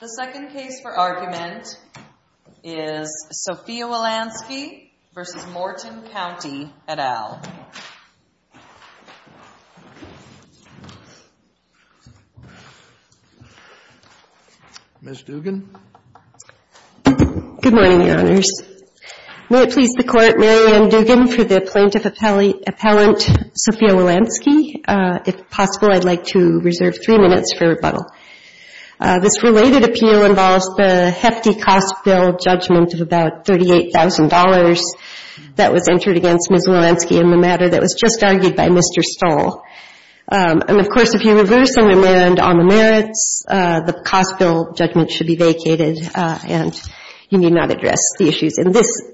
The second case for argument is Sophia Wilansky v. Morton County et al. Ms. Dugan. Good morning, Your Honors. May it please the Court, Mary Ann Dugan for the plaintiff appellant Sophia Wilansky. If possible, I'd like to reserve three minutes for rebuttal. This related appeal involves the hefty cost bill judgment of about $38,000 that was entered against Ms. Wilansky in the matter that was just argued by Mr. Stoll. And of course, if you reverse and amend all the merits, the cost bill judgment should be vacated and you have a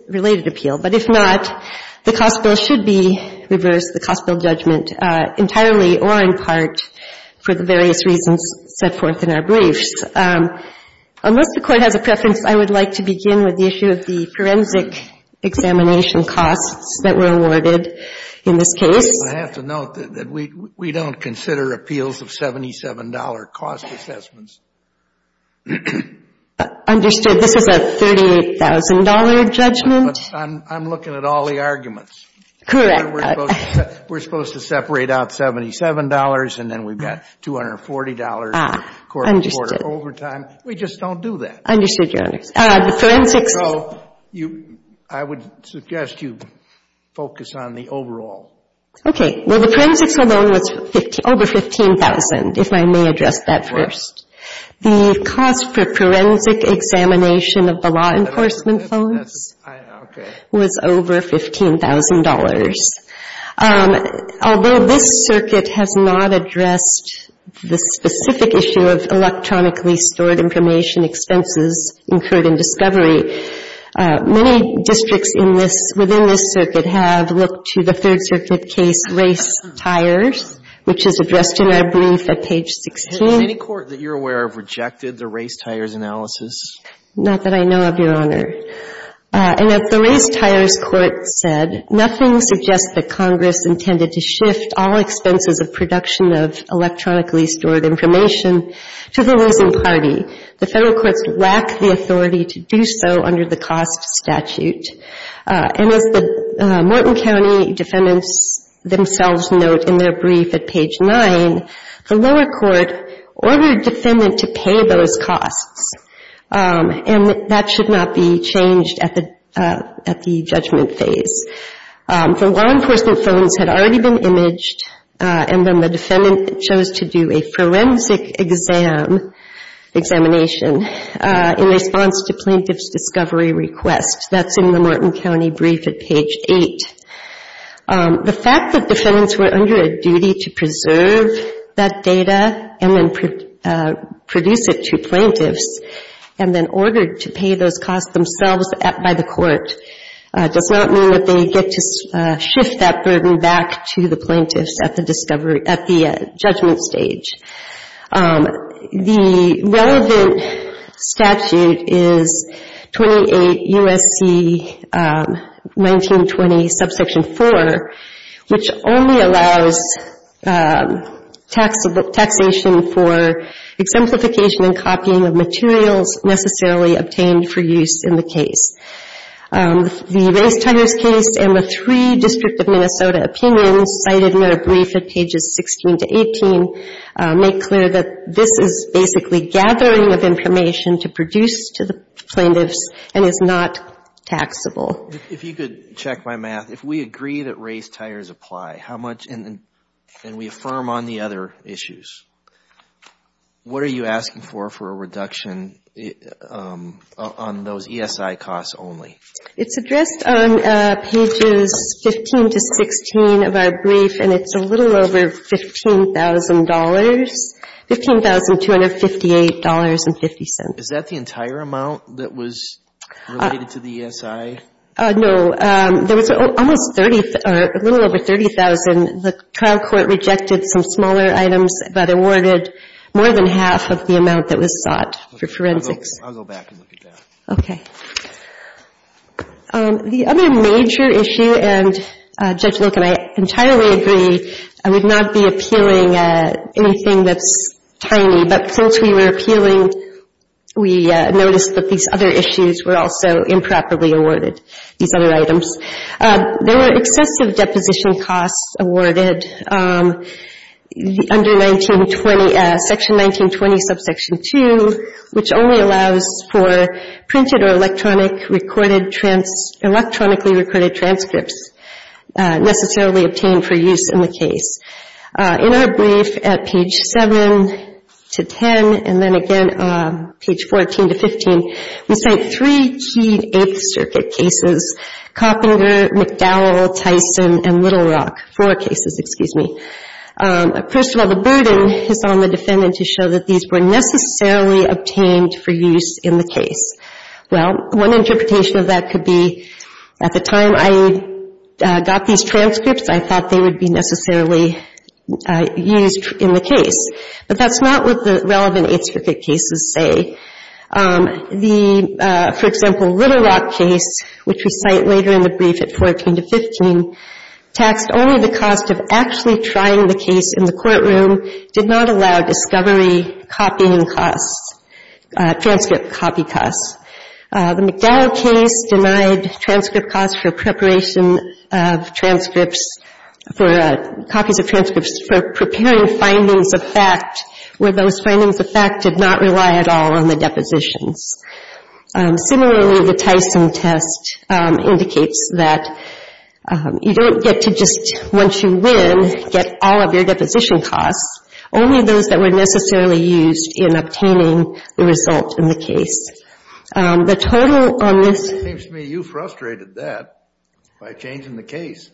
related appeal. But if not, the cost bill should be reversed, the cost bill judgment entirely or in part for the various reasons set forth in our briefs. Unless the Court has a preference, I would like to begin with the issue of the forensic examination costs that were awarded in this case. I have to note that we don't consider appeals of $77 cost assessments. Understood. This is a $38,000 judgment? I'm looking at all the arguments. Correct. We're supposed to separate out $77 and then we've got $240 for quarter-to-quarter overtime. We just don't do that. Understood, Your Honors. I would suggest you focus on the overall. Okay. Well, the forensics alone was over $15,000, if I may address that first. The cost for forensic examination of the law enforcement phones was over $15,000. Although this circuit has not addressed the specific issue of electronically stored information expenses incurred in discovery, many districts within this circuit have looked to the third circuit case, race tires, which is addressed in our brief at page 16. Has any court that you're aware of rejected the race tires analysis? Not that I know of, Your Honor. And as the race tires court said, nothing suggests that Congress intended to shift all expenses of production of electronically stored information to the losing party. The Federal courts lack the authority to do so under the cost statute. And as the Morton County defendants themselves note in their brief at page 9, the lower court ordered defendant to pay those costs. And that should not be changed at the judgment phase. The law enforcement phones had already been imaged and then the defendant chose to do a forensic exam, examination, in response to plaintiff's discovery request. That's in the Morton County brief at page 8. The fact that defendants were under a duty to preserve that data and then produce it to plaintiffs and then ordered to pay those costs themselves by the court does not mean that they get to shift that burden back to the plaintiffs at the judgment stage. The relevant statute is 28 U.S.C. 1920, subsection 4, which only allows taxation for exemplification and copying of materials necessarily obtained for use in the case. The race tires case and the three District of Minnesota opinions cited in their brief under pages 16 to 18 make clear that this is basically gathering of information to produce to the plaintiffs and is not taxable. If you could check my math, if we agree that race tires apply, how much, and we affirm on the other issues, what are you asking for for a reduction on those ESI costs only? It's addressed on pages 15 to 16 of our brief, and it's a little over $15,000, $15,258.50. Is that the entire amount that was related to the ESI? No. There was almost 30, a little over 30,000. The trial court rejected some smaller items but awarded more than half of the amount that was sought for forensics. I'll go back and look at that. Okay. The other major issue, and Judge Lincoln, I entirely agree, I would not be appealing anything that's tiny, but since we were appealing, we noticed that these other issues were also improperly awarded, these other items. There were excessive deposition costs awarded under 1920, Section 1920, subsection 2, which only allows for printed or electronically recorded transcripts necessarily obtained for use in the case. In our brief at page 7 to 10, and then again page 14 to 15, we cite three key Eighth Circuit cases, Coppinger, McDowell, Tyson, and Little Rock, four cases, excuse me. First of all, the burden is on the defendant to show that these were necessarily obtained for use in the case. Well, one interpretation of that could be, at the time I got these transcripts, I thought they would be necessarily used in the case. But that's not what the relevant Eighth Circuit cases say. The, for example, Little Rock case, which we cite later in the brief at 14 to 15, taxed only the cost of actually trying the case in the courtroom, did not allow discovery copying costs, transcript copy costs. The McDowell case denied transcript costs for preparation of transcripts, for copies of transcripts, for preparing findings of fact where those findings of fact did not rely at all on the depositions. Similarly, the Tyson test indicates that you don't get to just, once you win, get all of your deposition costs, only those that were necessarily used in obtaining the result in the case. The total on this... It seems to me you frustrated that by changing the case.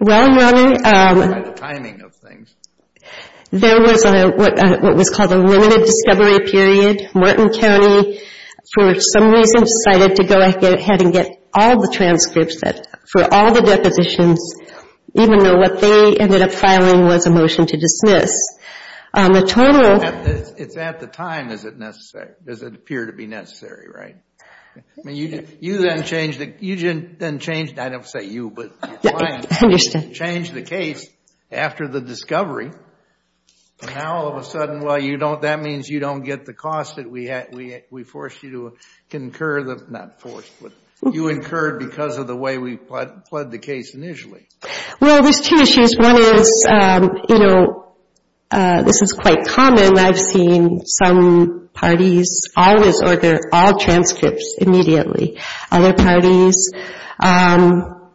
Well, Your Honor... It's at the time, is it necessary? Does it appear to be necessary, right? I mean, you didn't change, I didn't say you, but your client changed the case after the discovery, and now all of a sudden, well, you don't, that means you don't get the cost that we forced you to incur, not forced, but you incurred because of the way we pled the case initially. Well, there's two issues. One is, you know, this is quite common, I've seen some parties always order all transcripts immediately. Other parties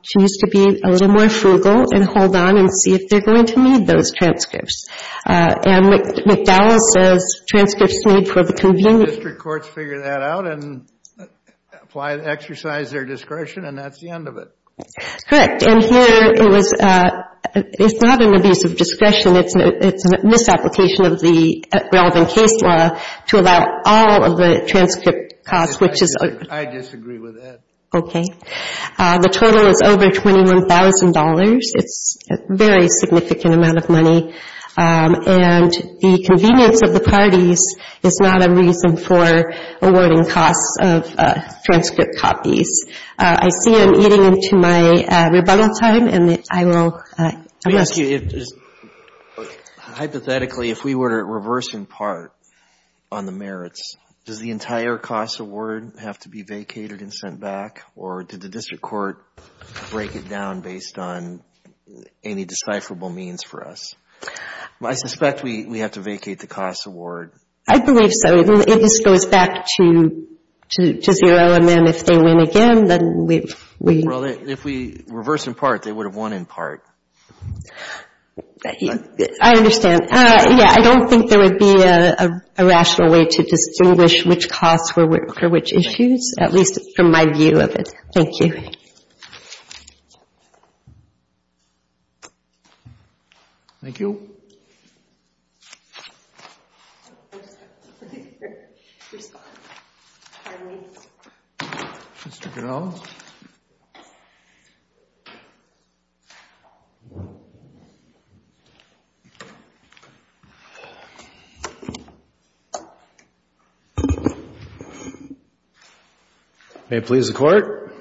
choose to be a little more frugal and hold on and see if they're going to need those transcripts. And McDowell says transcripts are made for the convenience... District courts figure that out and exercise their discretion, and that's the end of it. Correct. And here, it's not an abuse of discretion, it's a misapplication of the relevant case law to allow all of the transcript costs, which is... I disagree with that. Okay. The total is over $21,000. It's a very significant amount of money, and the convenience of the parties is not a reason for awarding costs of transcript copies. I see I'm eating into my rebuttal time, and I will... Let me ask you, hypothetically, if we were to reverse in part on the merits, does the entire cost award have to be vacated and sent back, or did the district court break it down based on any decipherable means for us? I suspect we have to vacate the cost award. I believe so. It just goes back to zero, and then if they win again, then we... Well, if we reverse in part, they would have won in part. I understand. Yeah, I don't think there would be a rational way to distinguish which costs were for which issues, at least from my view of it. Thank you. Thank you. Mr. Ganahl. May it please the court.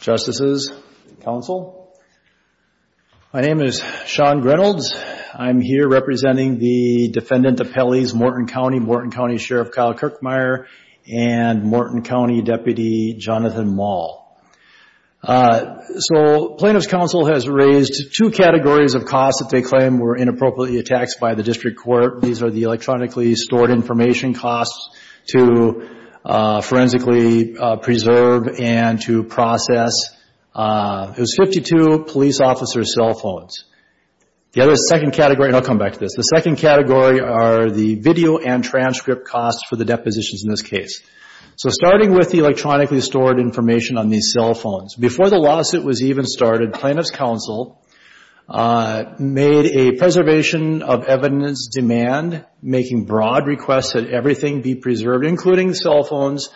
Justices, counsel. My name is Sean Grenalds. I'm here representing the defendant appellees, Morton County, Morton County Sheriff Kyle Kirkmeier, and Morton County Deputy Jonathan Moll. So Plaintiff's Counsel has raised two categories of costs that they claim were inappropriately taxed by the district court. These are the electronically stored information costs to forensically preserve and to process. It was 52 police officers' cell phones. And I'll come back to this. The second category are the video and transcript costs for the depositions in this case. So starting with the electronically stored information on these cell phones. Before the lawsuit was even started, Plaintiff's Counsel made a preservation of evidence demand, making broad requests that everything be preserved, including cell phones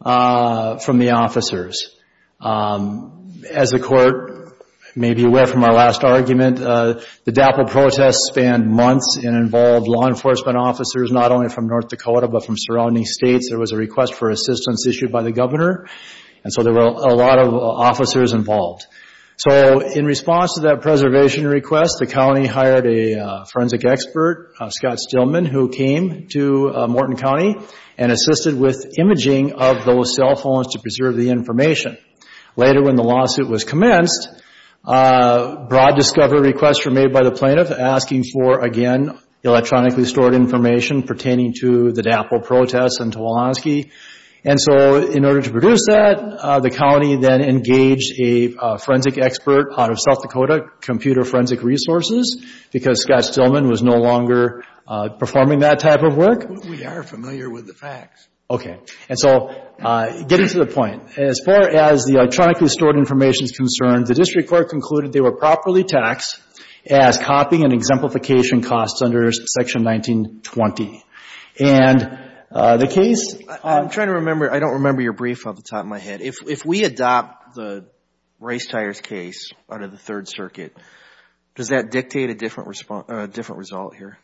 from the officers. As the court may be aware from our last argument, the DAPL protests spanned months and involved law enforcement officers not only from North Dakota but from surrounding states. There was a request for assistance issued by the governor, and so there were a lot of officers involved. So in response to that preservation request, the county hired a forensic expert, Scott Stillman, who came to Morton County and assisted with imaging of those cell phones to preserve the information. Later when the lawsuit was commenced, broad discovery requests were made by the plaintiff asking for, again, electronically stored information pertaining to the DAPL protests and Tawanski. And so in order to produce that, the county then engaged a forensic expert out of South Dakota, Computer Forensic Resources, because Scott Stillman was no longer performing that type of work. We are familiar with the facts. Okay. And so getting to the point, as far as the electronically stored information is concerned, the district court concluded they were properly taxed as copy and exemplification costs under Section 1920. And the case... I'm trying to remember. I don't remember your brief off the top of my head. If we adopt the race tires case out of the Third Circuit, does that dictate a different result here?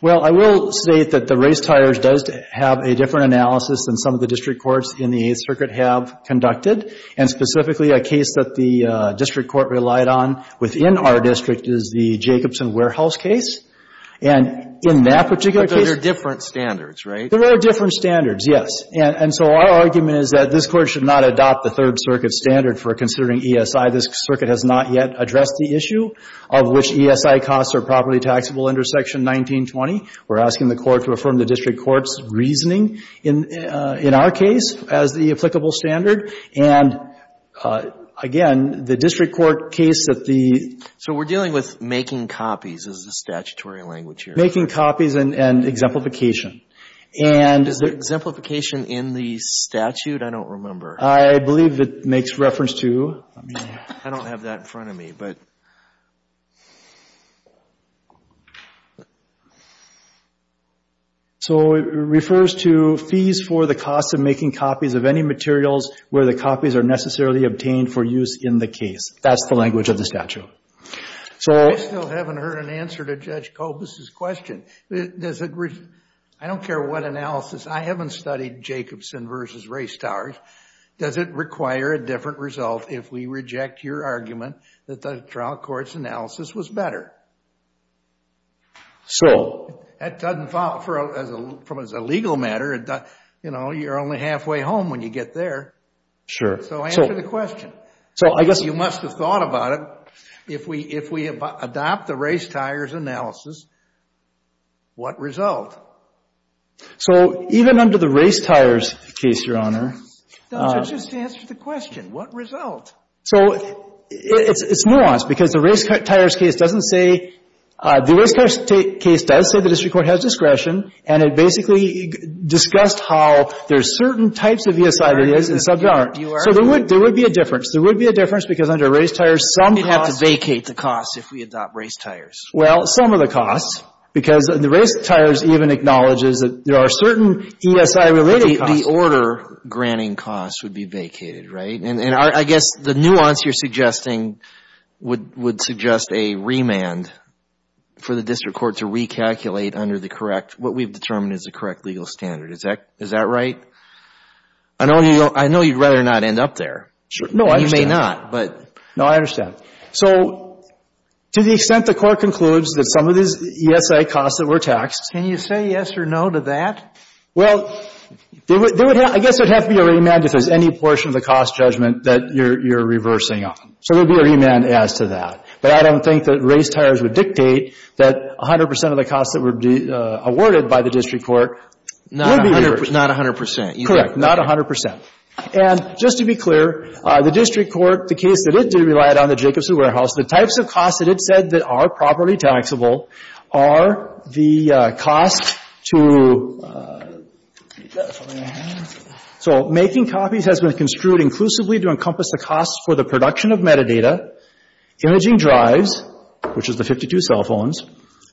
Well, I will state that the race tires does have a different analysis than some of the district courts in the Eighth Circuit have conducted, and specifically a case that the district court relied on within our district is the Jacobson Warehouse case. And in that particular case... But there are different standards, right? There are different standards, yes. And so our argument is that this Court should not adopt the Third Circuit standard for considering ESI. This Circuit has not yet addressed the issue of which ESI costs are properly taxable under Section 1920. We're asking the Court to affirm the district court's reasoning in our case as the applicable standard. And again, the district court case that the... So we're dealing with making copies is the statutory language here. Making copies and exemplification. Is exemplification in the statute? I don't remember. I believe it makes reference to... I don't have that in front of me, but... It refers to fees for the cost of making copies of any materials where the copies are necessarily obtained for use in the case. That's the language of the statute. I still haven't heard an answer to Judge Kobus' question. I don't care what analysis. I haven't studied Jacobson versus race tires. Does it require a different result if we reject your argument that the trial court's analysis was better? That doesn't fall from as a legal matter. You know, you're only halfway home when you get there. So answer the question. You must have thought about it. If we adopt the race tires analysis, what result? So even under the race tires case, Your Honor... Just answer the question. What result? So it's nuanced, because the race tires case doesn't say... The race tires case does say the district court has discretion, and it basically discussed how there's certain types of ESI there is, and some there aren't. So there would be a difference. There would be a difference, because under race tires, some costs... We'd have to vacate the costs if we adopt race tires. Well, some of the costs, because the race tires even acknowledges that there are certain ESI-related costs. Some of the order-granting costs would be vacated, right? And I guess the nuance you're suggesting would suggest a remand for the district court to recalculate under the correct, what we've determined is the correct legal standard. Is that right? I know you'd rather not end up there. No, I understand. You may not, but... No, I understand. So to the extent the court concludes that some of these ESI costs that were taxed... Can you say yes or no to that? Well, I guess it would have to be a remand if there's any portion of the cost judgment that you're reversing on. So there would be a remand as to that. But I don't think that race tires would dictate that 100 percent of the costs that were awarded by the district court... Not 100 percent. Correct. Not 100 percent. And just to be clear, the district court, the case that it did rely on, the Jacobson Warehouse, the types of costs that it said that are properly taxable are the cost to... So making copies has been construed inclusively to encompass the costs for the production of metadata, imaging drives, which is the 52 cell phones,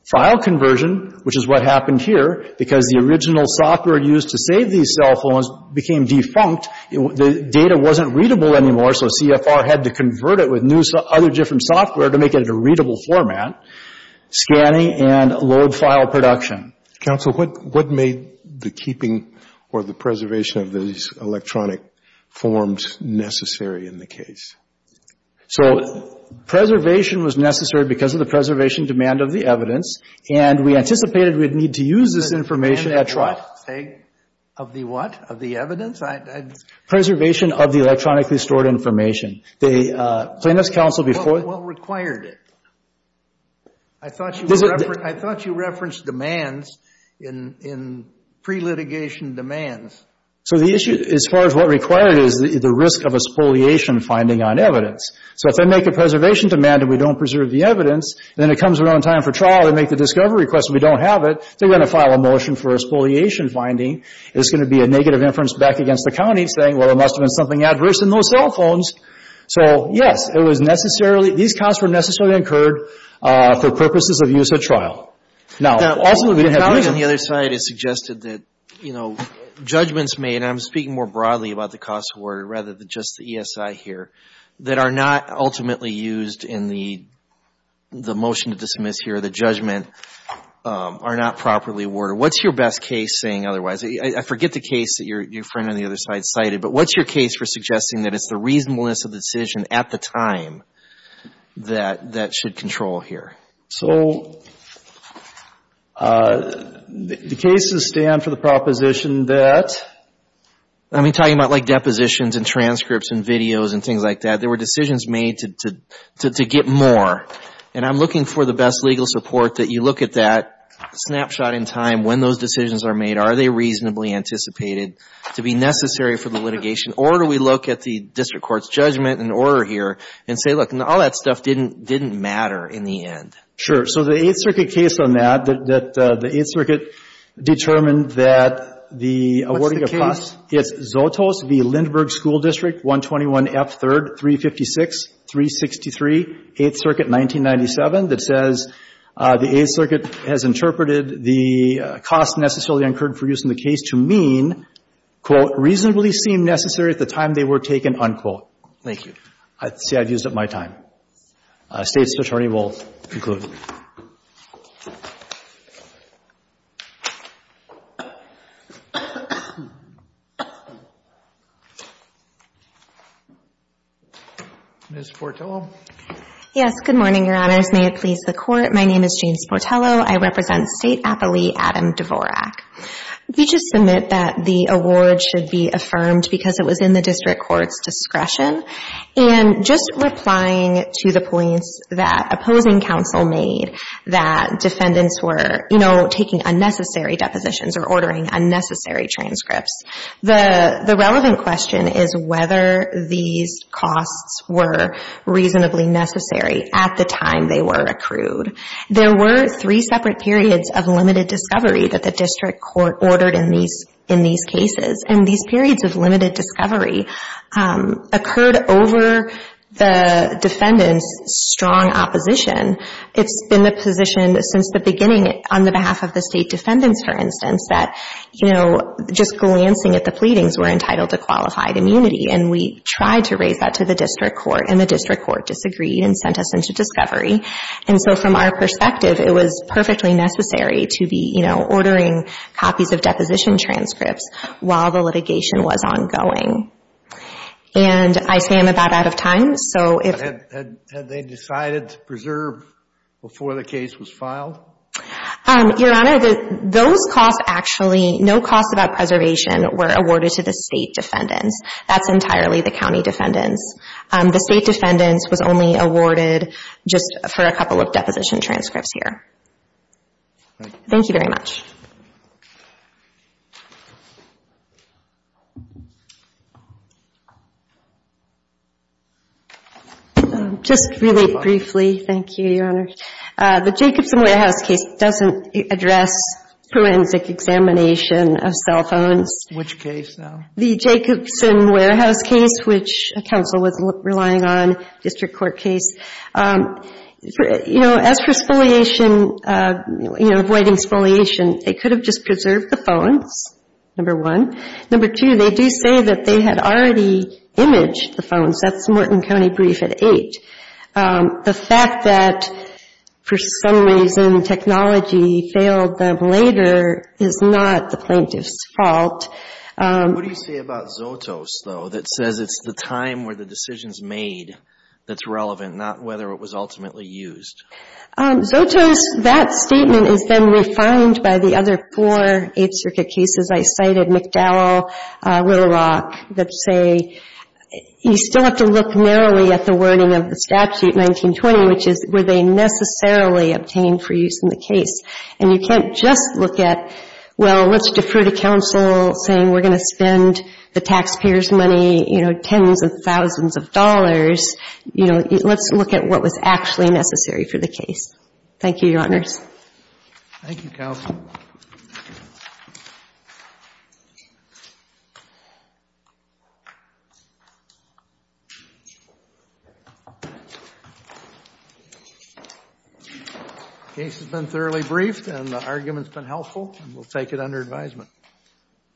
file conversion, which is what happened here, because the original software used to save these cell phones became defunct. The data wasn't readable anymore, so CFR had to convert it with other different software to make it a readable format, scanning and load file production. Counsel, what made the keeping or the preservation of these electronic forms necessary in the case? So preservation was necessary because of the preservation demand of the evidence, and we anticipated we'd need to use this information... Preservation of the what? Of the evidence? Preservation of the electronically stored information. What required it? I thought you referenced demands in pre-litigation demands. So the issue, as far as what required it, is the risk of a spoliation finding on evidence. So if they make a preservation demand and we don't preserve the evidence, and then it comes around time for trial, they make the discovery request and we don't have it, they're going to file a motion for a spoliation finding. It's going to be a negative inference back against the county saying, well, there must have been something adverse in those cell phones. So, yes, it was necessarily... These costs were necessarily incurred for purposes of use at trial. Now, also... On the other side, it suggested that, you know, judgments made, and I'm speaking more broadly about the cost of order rather than just the ESI here, that are not ultimately used in the motion to dismiss here, the judgment are not properly awarded. What's your best case saying otherwise? I forget the case that your friend on the other side cited, but what's your case for suggesting that it's the reasonableness of the decision at the time that should control here? So the cases stand for the proposition that... I mean, talking about, like, depositions and transcripts and videos and things like that, there were decisions made to get more. And I'm looking for the best legal support that you look at that snapshot in time when those decisions are made. Are they reasonably anticipated to be necessary for the litigation? Or do we look at the district court's judgment and order here and say, look, all that stuff didn't matter in the end? Sure. So the Eighth Circuit case on that, that the Eighth Circuit determined that the awarding of costs... It's Zotos v. Lindberg School District 121F3rd 356-363, Eighth Circuit 1997, that says the Eighth Circuit has interpreted the costs necessarily incurred for use in the case to mean, quote, reasonably seem necessary at the time they were taken, unquote. Thank you. See, I've used up my time. State's attorney will conclude. Ms. Portillo? Yes. Good morning, Your Honors. May it please the Court. My name is James Portillo. I represent State appellee Adam Dvorak. We just submit that the award should be affirmed because it was in the district court's discretion. And just replying to the points that opposing counsel made that defendants were, you know, taking unnecessary depositions or ordering unnecessary transcripts, the relevant question is whether these costs were reasonably necessary at the time they were accrued. There were three separate periods of limited discovery that the district court ordered in these cases, and these periods of limited discovery occurred over the defendants' strong opposition. It's been the position since the beginning on the behalf of the State defendants, for instance, that, you know, just glancing at the pleadings, we're entitled to qualified immunity. And we tried to raise that to the district court, and the district court disagreed and sent us into discovery. And so from our perspective, it was perfectly necessary to be, you know, ordering copies of deposition transcripts while the litigation was ongoing. And I say I'm about out of time, so if— Had they decided to preserve before the case was filed? Your Honor, those costs actually—no costs about preservation were awarded to the State defendants. That's entirely the County defendants. The State defendants was only awarded just for a couple of deposition transcripts here. Thank you very much. Just really briefly, thank you, Your Honor. The Jacobson Warehouse case doesn't address forensic examination of cell phones. Which case, though? The Jacobson Warehouse case, which counsel was relying on, district court case. You know, as for spoliation, you know, avoiding spoliation, they could have just preserved the phones, number one. Number two, they do say that they had already imaged the phones. That's Morton County brief at eight. The fact that, for some reason, technology failed them later is not the plaintiff's fault. What do you say about Zotos, though, that says it's the time where the decision's made that's relevant, not whether it was ultimately used? Zotos, that statement has been refined by the other four Eighth Circuit cases. I cited McDowell, Little Rock, that say you still have to look narrowly at the wording of the statute, 1920, which is were they necessarily obtained for use in the case. And you can't just look at, well, let's defer to counsel saying we're going to spend the taxpayers' money, you know, tens of thousands of dollars. You know, let's look at what was actually necessary for the case. Thank you, Your Honors. Thank you, counsel. The case has been thoroughly briefed, and the argument's been helpful, and we'll take it under advisement.